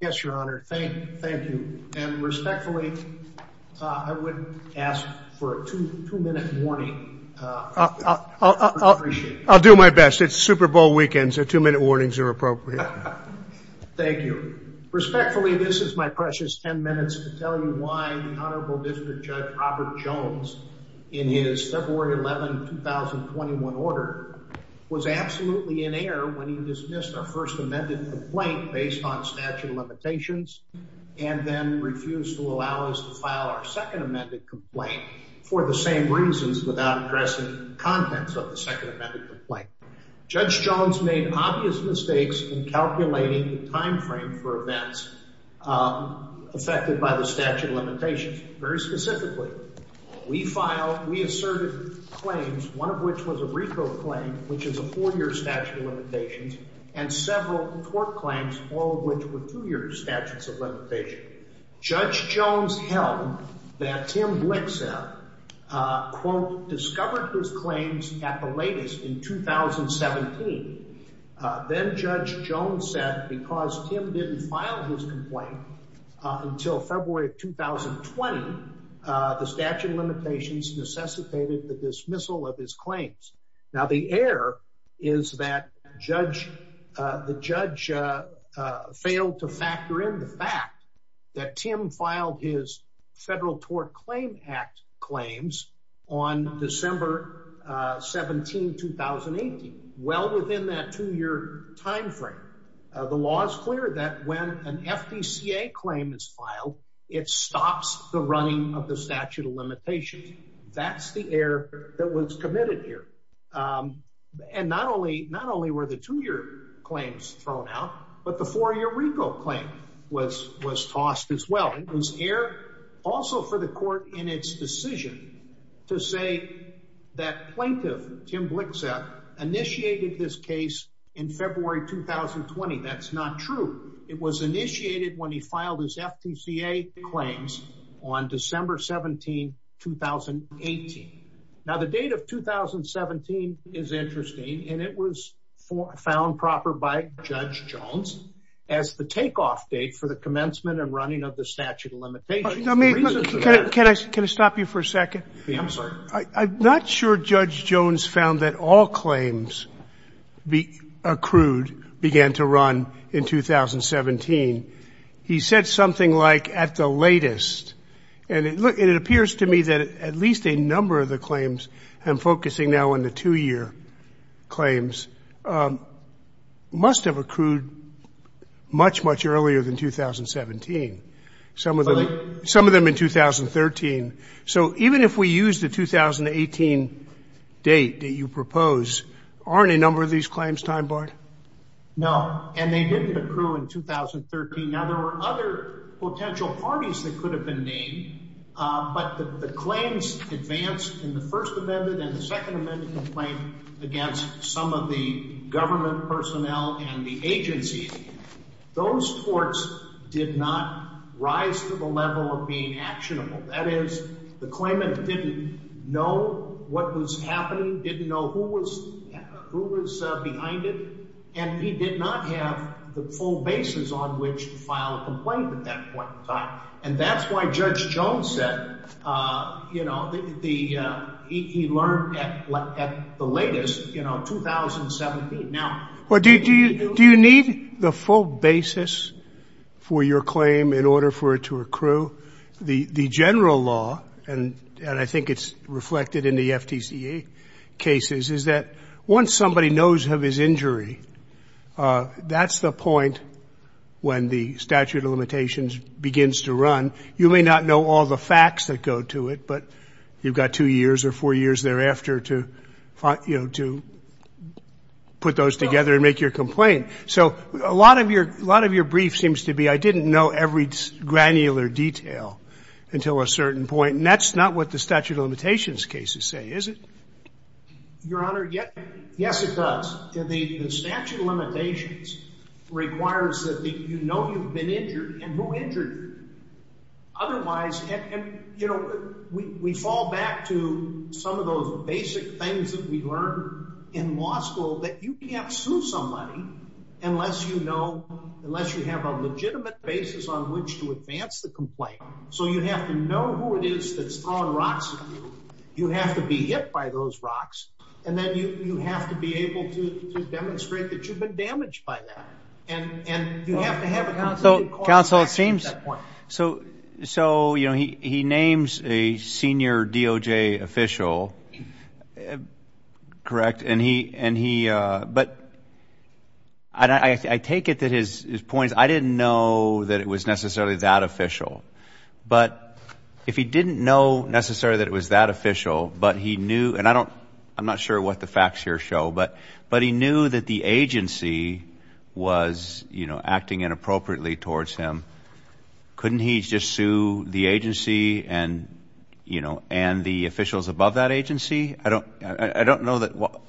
Yes, Your Honor. Thank you. And respectfully, I would ask for a two-minute warning. I'll do my best. It's Super Bowl weekend, so two-minute warnings are appropriate. Thank you. Respectfully, this is my precious 10 minutes to tell you why the Honorable District Judge Robert Jones, in his February 11, 2021 order, was absolutely in error when he dismissed our first amended complaint based on statute of limitations and then refused to allow us to file our second amended complaint for the same reasons without addressing contents of the second amended complaint. Judge Jones made obvious mistakes in calculating the time frame for events affected by the statute of limitations. Very specifically, we filed, we asserted claims, one of which was which is a four-year statute of limitations, and several tort claims, all of which were two-year statutes of limitations. Judge Jones held that Tim Blixseth, quote, discovered those claims at the latest in 2017. Then Judge Jones said because Tim didn't file his complaint until February of 2020, the statute of limitations necessitated the dismissal of his claims. Now, the error is that the judge failed to factor in the fact that Tim filed his Federal Tort Claim Act claims on December 17, 2018, well within that two-year time frame. The law is clear that when an FDCA claim is filed, it stops the running of the statute of limitations. That's the error that was committed here. And not only were the two-year claims thrown out, but the four-year RICO claim was tossed as well. It was error also for the court in its decision to say that plaintiff, Tim Blixseth, initiated this case in February 2020. That's not true. It was initiated when he filed his FDCA claims on December 17, 2018. Now, the date of 2017 is interesting, and it was found proper by Judge Jones as the takeoff date for the commencement and running of the statute of limitations. Can I stop you for a second? I'm not sure Judge Jones's answer to this question is, at this point in 2017, he said something like at the latest. And it appears to me that at least a number of the claims I'm focusing now on the two-year claims must have accrued much, much earlier than 2017. Some of them in 2013. So even if we use the 2018 date that you propose, aren't a number of these claims time-barred? No. And they didn't accrue in 2013. Now, there were other potential parties that could have been named. But the claims advanced in the First Amendment and the Second Amendment complaint against some of the government personnel and the agencies. Those courts did not rise to the level of being actionable. That is, the claimant didn't know what was happening, didn't know who was behind it, and he did not have the full basis on which to file a complaint at that point in time. And that's why Judge Jones said, you know, he learned at the latest, you know, 2017. Now, do you need the full basis for your claim in order for it to accrue? The general law, and I think it's reflected in the FTCA cases, is that once somebody knows of his injury, that's the point when the statute of limitations begins to run. You may not know all the facts that go to it, but you've got two years or four years thereafter to, you know, to put those together and make your complaint. So a lot of your brief seems to be, I didn't know every granular detail until a certain point, and that's not what the statute of limitations cases say, is it? Your Honor, yes, it does. The statute of limitations requires that you know you've been injured and who injured you. Otherwise, you know, we fall back to some of those basic things that we learned in law school that you can't sue somebody unless you know, unless you have a so you have to know who it is that's throwing rocks at you. You have to be hit by those rocks, and then you have to be able to demonstrate that you've been damaged by that, and you have to have a constant call to action at that point. So, you know, he names a senior DOJ official, correct? And he, but I take it that his points, I didn't know that it was necessarily that official, but if he didn't know necessarily that it was that official, but he knew, and I don't, I'm not sure what the facts here show, but he knew that the agency was, you know, acting inappropriately towards him. Couldn't he just sue the agency and, you know, and the officials above that agency? I don't, I don't know that,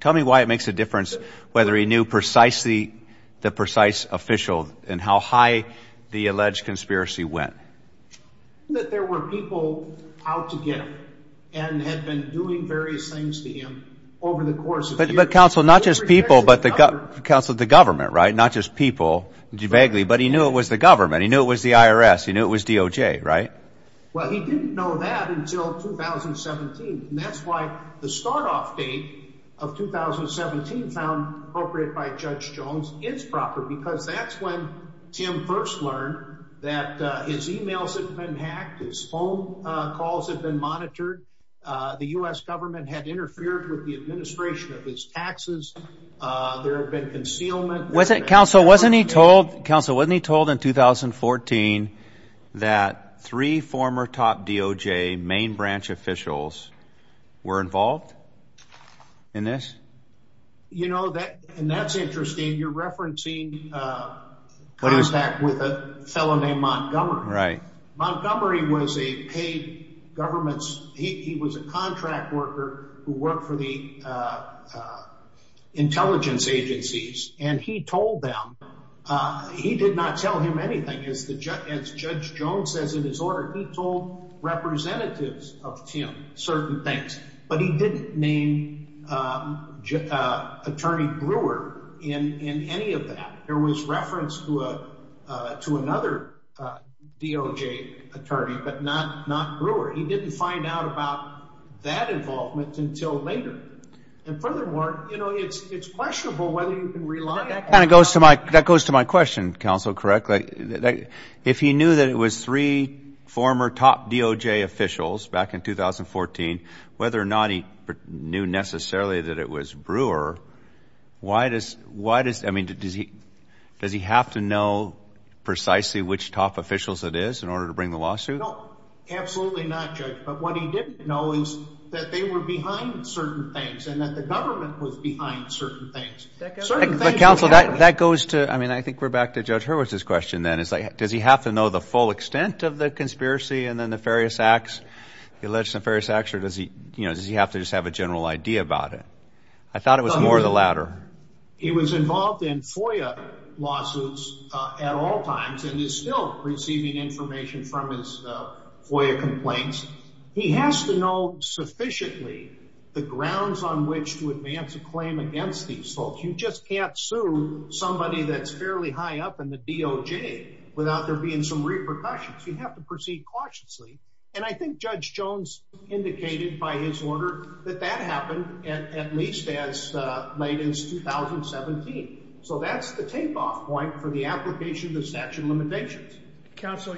tell me why it makes a difference whether he knew precisely the precise official and how high the alleged conspiracy went. That there were people out to get him, and had been doing various things to him over the course of years. But counsel, not just people, but the, counsel, the government, right? Not just people, vaguely, but he knew it was the government. He knew it was the IRS. He knew it was DOJ, right? Well, he didn't know that until 2017, and that's why the start-off date of 2017, found appropriate by Judge Jones, is proper, because that's when Tim first learned that his emails had been hacked, his phone calls had been monitored, the U.S. government had interfered with the administration of his taxes, there had been concealment. Was it, counsel, wasn't he told, counsel, wasn't he told in 2014 that three former top DOJ main branch officials were involved in this? You know, that, and that's interesting, you're referencing contact with a fellow named Montgomery. Right. Montgomery was a paid government's, he was a contract worker who worked for the intelligence agencies, and he told them, he did not tell him anything, as Judge Jones says in his order, he told representatives of Tim certain things, but he didn't name Attorney Brewer in any of that. There was reference to another DOJ attorney, but not Brewer. He didn't find out about that involvement until later, and furthermore, you know, it's questionable whether you can rely on... That kind of goes to my, that goes to my former top DOJ officials back in 2014, whether or not he knew necessarily that it was Brewer, why does, why does, I mean, does he, does he have to know precisely which top officials it is in order to bring the lawsuit? No, absolutely not, Judge, but what he didn't know is that they were behind certain things, and that the government was behind certain things. But counsel, that goes to, I mean, I think we're back to Judge Hurwitz's question then, is like, does he have to know the full extent of the conspiracy and the nefarious acts, the alleged nefarious acts, or does he, you know, does he have to just have a general idea about it? I thought it was more of the latter. He was involved in FOIA lawsuits at all times and is still receiving information from his FOIA complaints. He has to know sufficiently the grounds on which to advance a claim against these folks. You just can't sue somebody that's fairly high up in the DOJ without there being some repercussions. You have to proceed cautiously, and I think Judge Jones indicated by his order that that happened at least as late as 2017. So that's the tape-off point for the application of the statute of limitations. Counsel,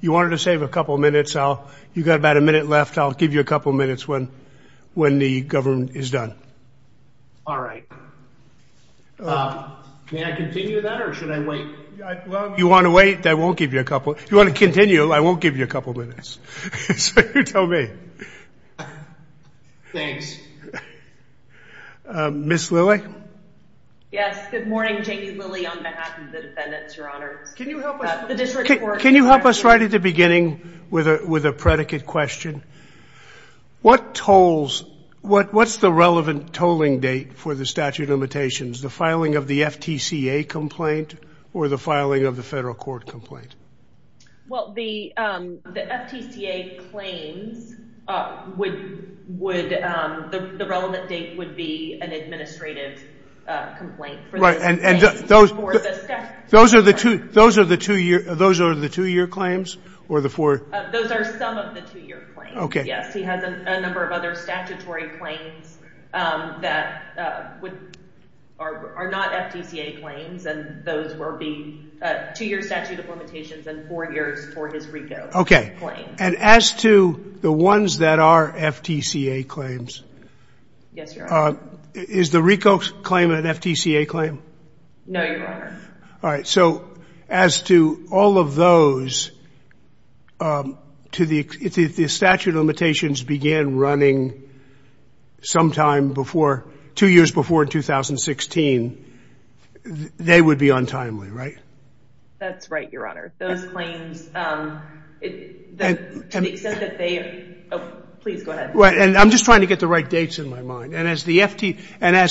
you wanted to save a couple minutes. You've got about a minute left. I'll give you a couple minutes when the government is done. All right. May I continue that or should I wait? You want to wait? I won't give you a couple. You want to continue, I won't give you a couple minutes. So you tell me. Thanks. Ms. Lilly? Yes, good morning. Jamie Lilly on behalf of the defendants, your honors. Can you help us right at the beginning with a predicate question? What tolls, what's the relevant tolling date for the statute of limitations? The filing of the FTCA complaint or the filing of the federal court complaint? Well, the FTCA claims, the relevant date would be an administrative complaint. Those are the two-year claims or the four? Those are some of the two-year claims, yes. He has a that are not FTCA claims and those will be two-year statute of limitations and four years for his RICO claim. Okay. And as to the ones that are FTCA claims, is the RICO claim an FTCA claim? No, your honor. All right. So as to all of those, if the statute of limitations began running sometime before, two years before 2016, they would be untimely, right? That's right, your honor. Those claims, to the extent that they, please go ahead. Right. And I'm just trying to get the right dates in my mind. And as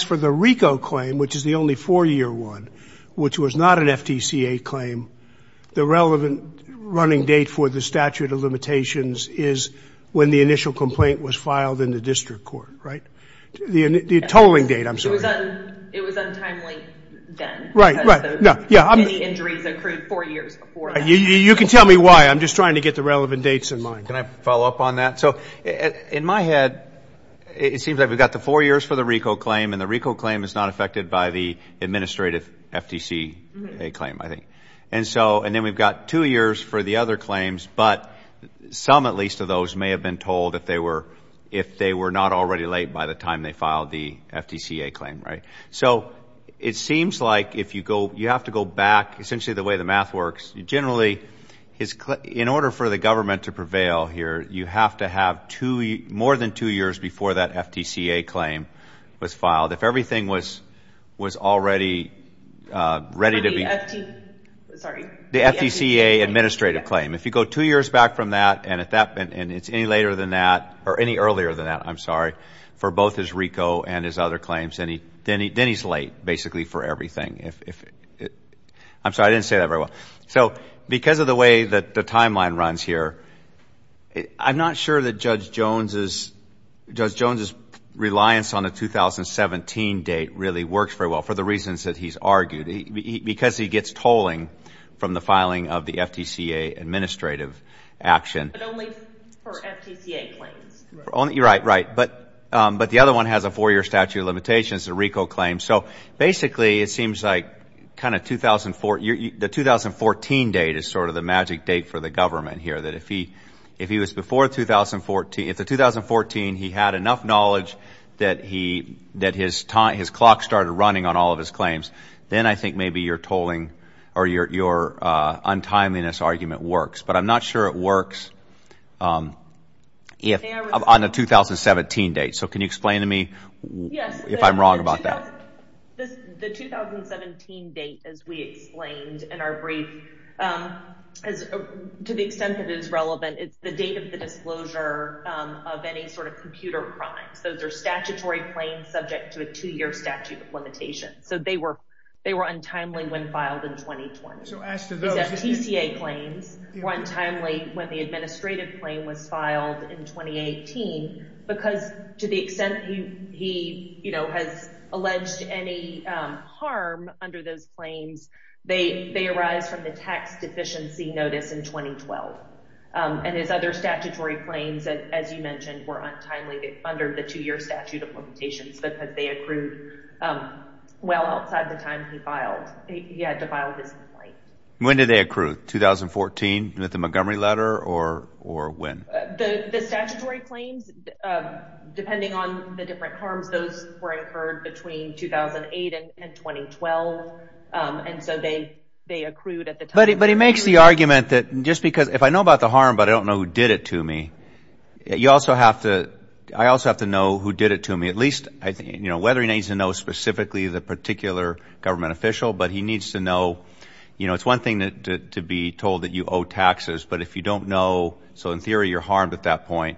for the RICO claim, which is the only four-year one, which was not an FTCA claim, the relevant running date for the statute of limitations is when the initial complaint was filed in the district court, right? The tolling date, I'm sorry. It was untimely then. Right, right. Many injuries occurred four years before that. You can tell me why. I'm just trying to get the relevant dates in mind. Can I follow up on that? So in my head, it seems like we've got the four years for the RICO claim and the RICO claim is not affected by the administrative FTCA claim, I think. And so, and then we've got two years for the other claims, but some at least of those may have been told if they were not already late by the time they filed the FTCA claim, right? So it seems like if you go, you have to go back, essentially the way the math works, generally in order for the government to prevail here, you have to have more than two years before that FTCA claim was filed. If everything was already ready to be, sorry, the FTCA administrative claim, if you go two years back from that and it's any later than that or any earlier than that, I'm sorry, for both his RICO and his other claims, then he's late basically for everything. I'm sorry, I didn't say that very well. So because of the way that the timeline runs here, I'm not sure that Judge Jones's, Judge Jones's reliance on the 2017 date really works very well for the reasons that he's argued. Because he gets tolling from the filing of the FTCA administrative action. But only for FTCA claims. Right, right. But the other one has a four-year statute of limitations, the RICO claim. So basically, it seems like kind of 2004, the 2014 date is sort of the magic date for the government here. That if he was before 2014, if the 2014, he had enough knowledge that his clock started running on all of his claims, then I think maybe your tolling or your untimeliness argument works. But I'm not sure it works on the 2017 date. So can you To the extent that it is relevant, it's the date of the disclosure of any sort of computer crimes. Those are statutory claims subject to a two-year statute of limitations. So they were, they were untimely when filed in 2020. So as to those FTCA claims were untimely when the administrative claim was filed in 2018. Because to the extent he, you know, has alleged any harm under those claims, they arise from the tax deficiency notice in 2012. And his other statutory claims, as you mentioned, were untimely under the two-year statute of limitations because they accrued well outside the time he filed. He had to file his complaint. When did they accrue? 2014 with the Montgomery letter or when? The statutory claims, depending on the different harms, those were incurred between 2008 and 2012. And so they accrued at the time. But he makes the argument that just because if I know about the harm, but I don't know who did it to me, you also have to, I also have to know who did it to me, at least, I think, you know, whether he needs to know specifically the particular government official, but he needs to know, you know, it's one thing that to be told that you owe taxes, but if you don't know, so in theory, you're harmed at that point.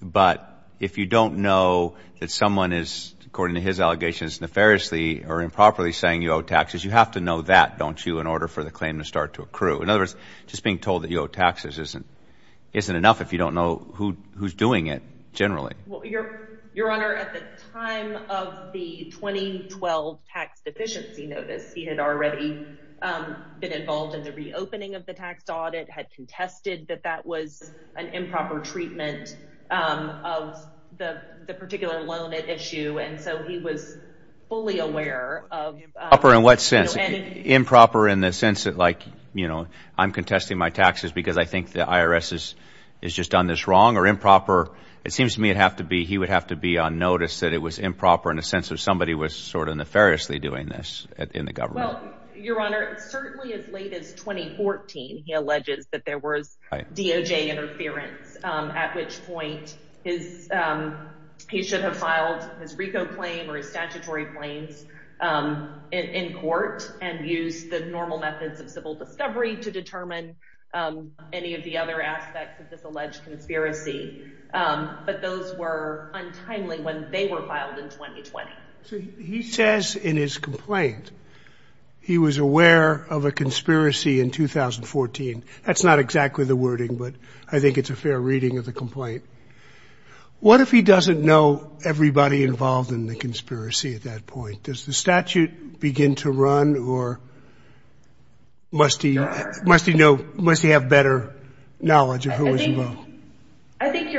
But if you don't know that someone is, according to his allegations, nefariously or improperly saying you owe taxes, you have to know that, don't you, in order for the claim to start to accrue. In other words, just being told that you owe taxes isn't enough if you don't know who's doing it, generally. Your Honor, at the time of the 2012 tax deficiency notice, he had already been involved in the reopening of the tax audit, had contested that that was an improper treatment of the particular loan issue. And so he was fully aware of... Improper in what sense? Improper in the sense that, like, you know, I'm contesting my taxes because I think the IRS has just done this wrong or improper. It seems to me it'd have to be, he would have to be on notice that it was improper in the sense of somebody was sort of nefariously doing this in the government. Well, Your Honor, certainly as late as 2014, he alleges that there was DOJ interference, at which point he should have filed his RICO claim or his statutory claims in court and used the normal methods of civil discovery to determine any of the other aspects of this alleged conspiracy. But those were untimely when they were filed in 2020. So he says in his complaint he was aware of a conspiracy in 2014. That's not exactly the wording, but I think it's a fair reading of the complaint. What if he doesn't know everybody involved in the conspiracy at that point? Does the statute begin to run or must he know, must he have better knowledge of who was involved? I think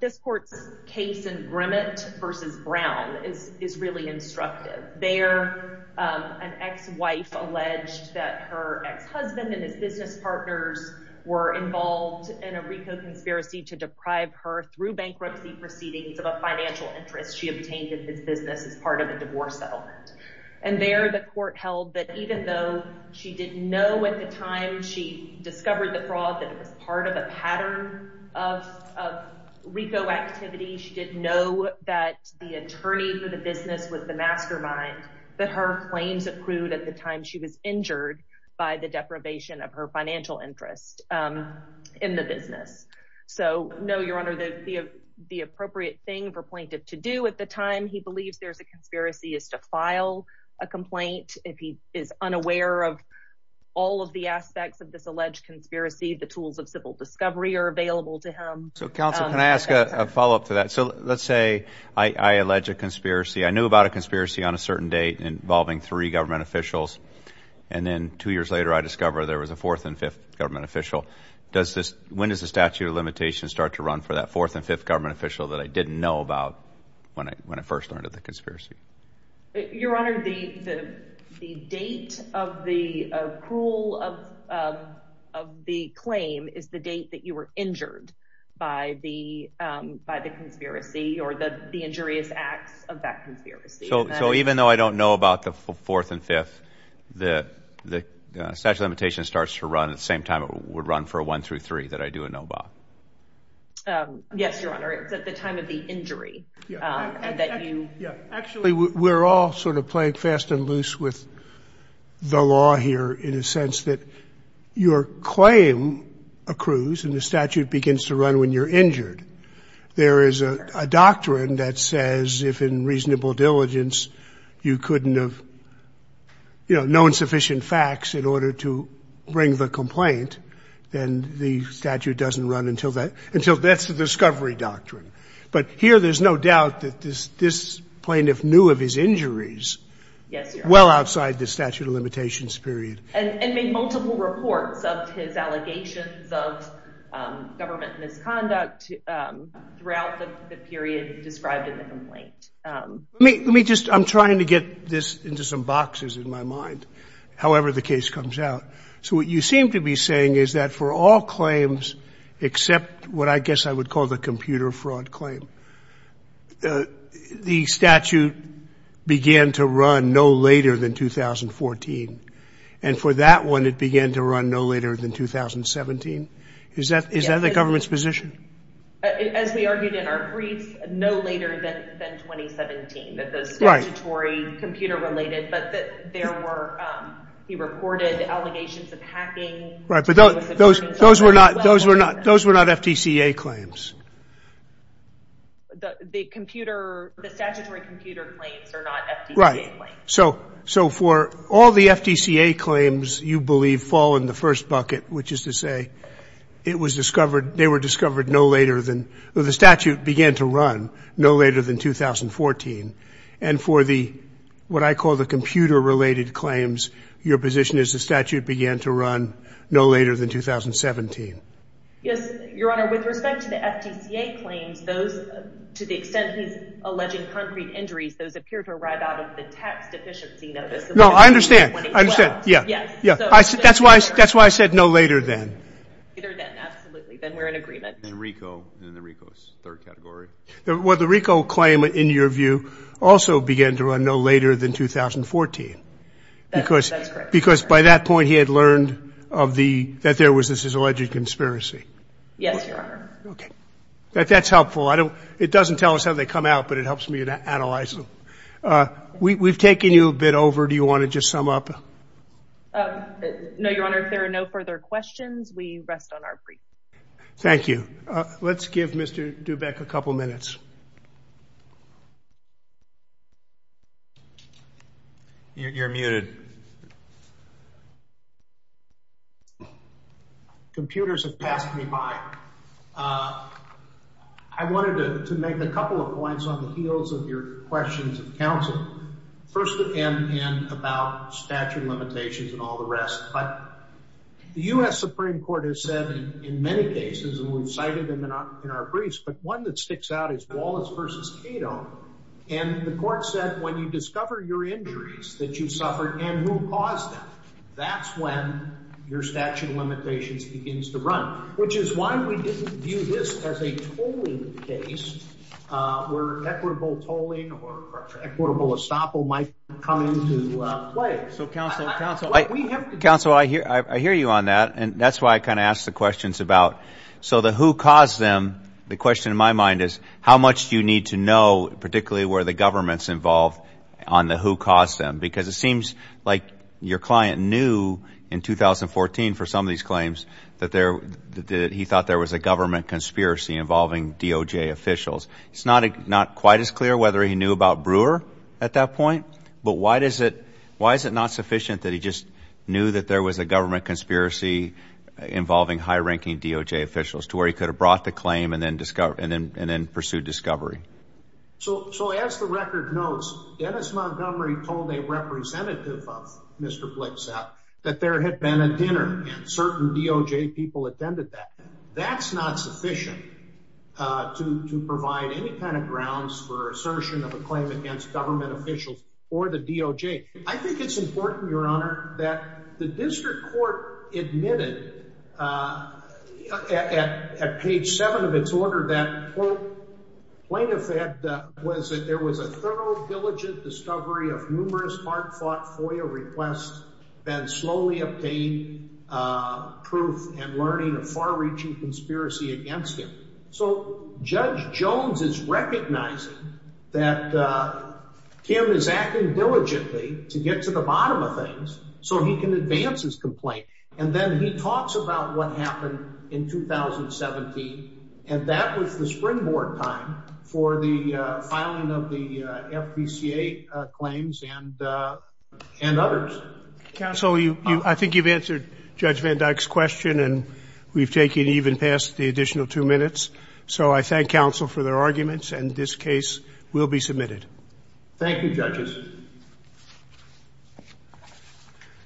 this court's case in Grimmett versus Brown is really instructive. There, an ex-wife alleged that her ex-husband and his business partners were involved in a RICO conspiracy to deprive her through bankruptcy proceedings of a financial interest she obtained in his business as part of a divorce settlement. And there the court held that even though she didn't know at the time she discovered the fraud, that it was part of a pattern of RICO activity, she didn't know that the attorney for the business was the mastermind, that her claims accrued at the time she was injured by the deprivation of her financial interest in the business. So no, Your Honor, the appropriate thing for a plaintiff to do at the all of the aspects of this alleged conspiracy, the tools of civil discovery are available to him. So counsel, can I ask a follow-up to that? So let's say I allege a conspiracy. I knew about a conspiracy on a certain date involving three government officials. And then two years later, I discover there was a fourth and fifth government official. When does the statute of limitations start to run for that fourth and fifth government official that I didn't know about when I first learned of the conspiracy? Your Honor, the date of the accrual of the claim is the date that you were injured by the conspiracy or the injurious acts of that conspiracy. So even though I don't know about the fourth and fifth, the statute of limitations starts to run at the same time it would run for a one through three that I do know about? Yes, Your Honor, it's at the time of the Actually, we're all sort of playing fast and loose with the law here in a sense that your claim accrues and the statute begins to run when you're injured. There is a doctrine that says if in reasonable diligence, you couldn't have, you know, known sufficient facts in order to bring the complaint, then the statute doesn't run until that's the discovery doctrine. But here there's no doubt that this plaintiff knew of his injuries well outside the statute of limitations period. And made multiple reports of his allegations of government misconduct throughout the period described in the complaint. I'm trying to get this into some boxes in my mind, however the case comes out. So what you I guess I would call the computer fraud claim. The statute began to run no later than 2014. And for that one, it began to run no later than 2017. Is that the government's position? As we argued in our brief, no later than 2017, that the statutory computer related, but there were, he reported allegations of hacking. Right, but those were not FTCA claims. The computer, the statutory computer claims are not FTCA claims. So for all the FTCA claims, you believe fall in the first bucket, which is to say it was discovered, they were discovered no later than, the statute began to run no later than 2014. And for the, what I call the computer related claims, your position is the statute began to run no later than 2017. Yes, Your Honor. With respect to the FTCA claims, those, to the extent he's alleging concrete injuries, those appear to arrive out of the tax deficiency notice. No, I understand. I understand. Yeah, yeah. That's why I said no later than. Later than, absolutely. Then we're in agreement. Then RICO, then the RICO's third category. Well, the RICO claim in your view also began to run no later than 2014. That's correct. Because by that point he had learned of the, that there was this alleged conspiracy. Yes, Your Honor. Okay. That's helpful. I don't, it doesn't tell us how they come out, but it helps me to analyze them. We've taken you a bit over. Do you want to just sum up? No, Your Honor. If there are no further questions, we rest on our brief. Thank you. Let's give Mr. Dubeck a couple minutes. You're muted. Computers have passed me by. I wanted to make a couple of points on the heels of your questions of counsel, first and about statute limitations and all the rest. But the U.S. Supreme Court has said in many cases, and we've cited them in our briefs, but one that sticks out is Wallace versus Cato. And the court said, when you discover your injuries that you suffered and who caused them, that's when your statute of limitations begins to run, which is why we didn't view this as a tolling case where equitable tolling or equitable estoppel might come into play. Counsel, I hear you on that, and that's why I kind of ask the questions about, so the who caused them, the question in my mind is, how much do you need to know, particularly where the government's involved, on the who caused them? Because it seems like your client knew in 2014 for some of these claims that he thought there was a government conspiracy involving DOJ officials. It's not quite as clear whether he knew about Brewer at that point, but why is it not sufficient that he just knew that there was a government conspiracy involving high-ranking DOJ officials, to where he could have brought the claim and then pursued discovery? So as the record notes, Dennis Montgomery told a representative of Mr. Blixat that there had been a dinner and certain DOJ people attended that. That's not sufficient uh to to provide any kind of grounds for assertion of a claim against government officials or the DOJ. I think it's important, your honor, that the district court admitted at page seven of its order that, quote, plain of fact was that there was a thorough diligent discovery of numerous hard-fought FOIA requests, then slowly obtained proof and learning of far so. Judge Jones is recognizing that Kim is acting diligently to get to the bottom of things so he can advance his complaint, and then he talks about what happened in 2017, and that was the springboard time for the filing of the FPCA claims and others. Counsel, I think you've answered Judge Van Dyck's question, and we've taken even past the additional two so I thank counsel for their arguments, and this case will be submitted. Thank you, judges.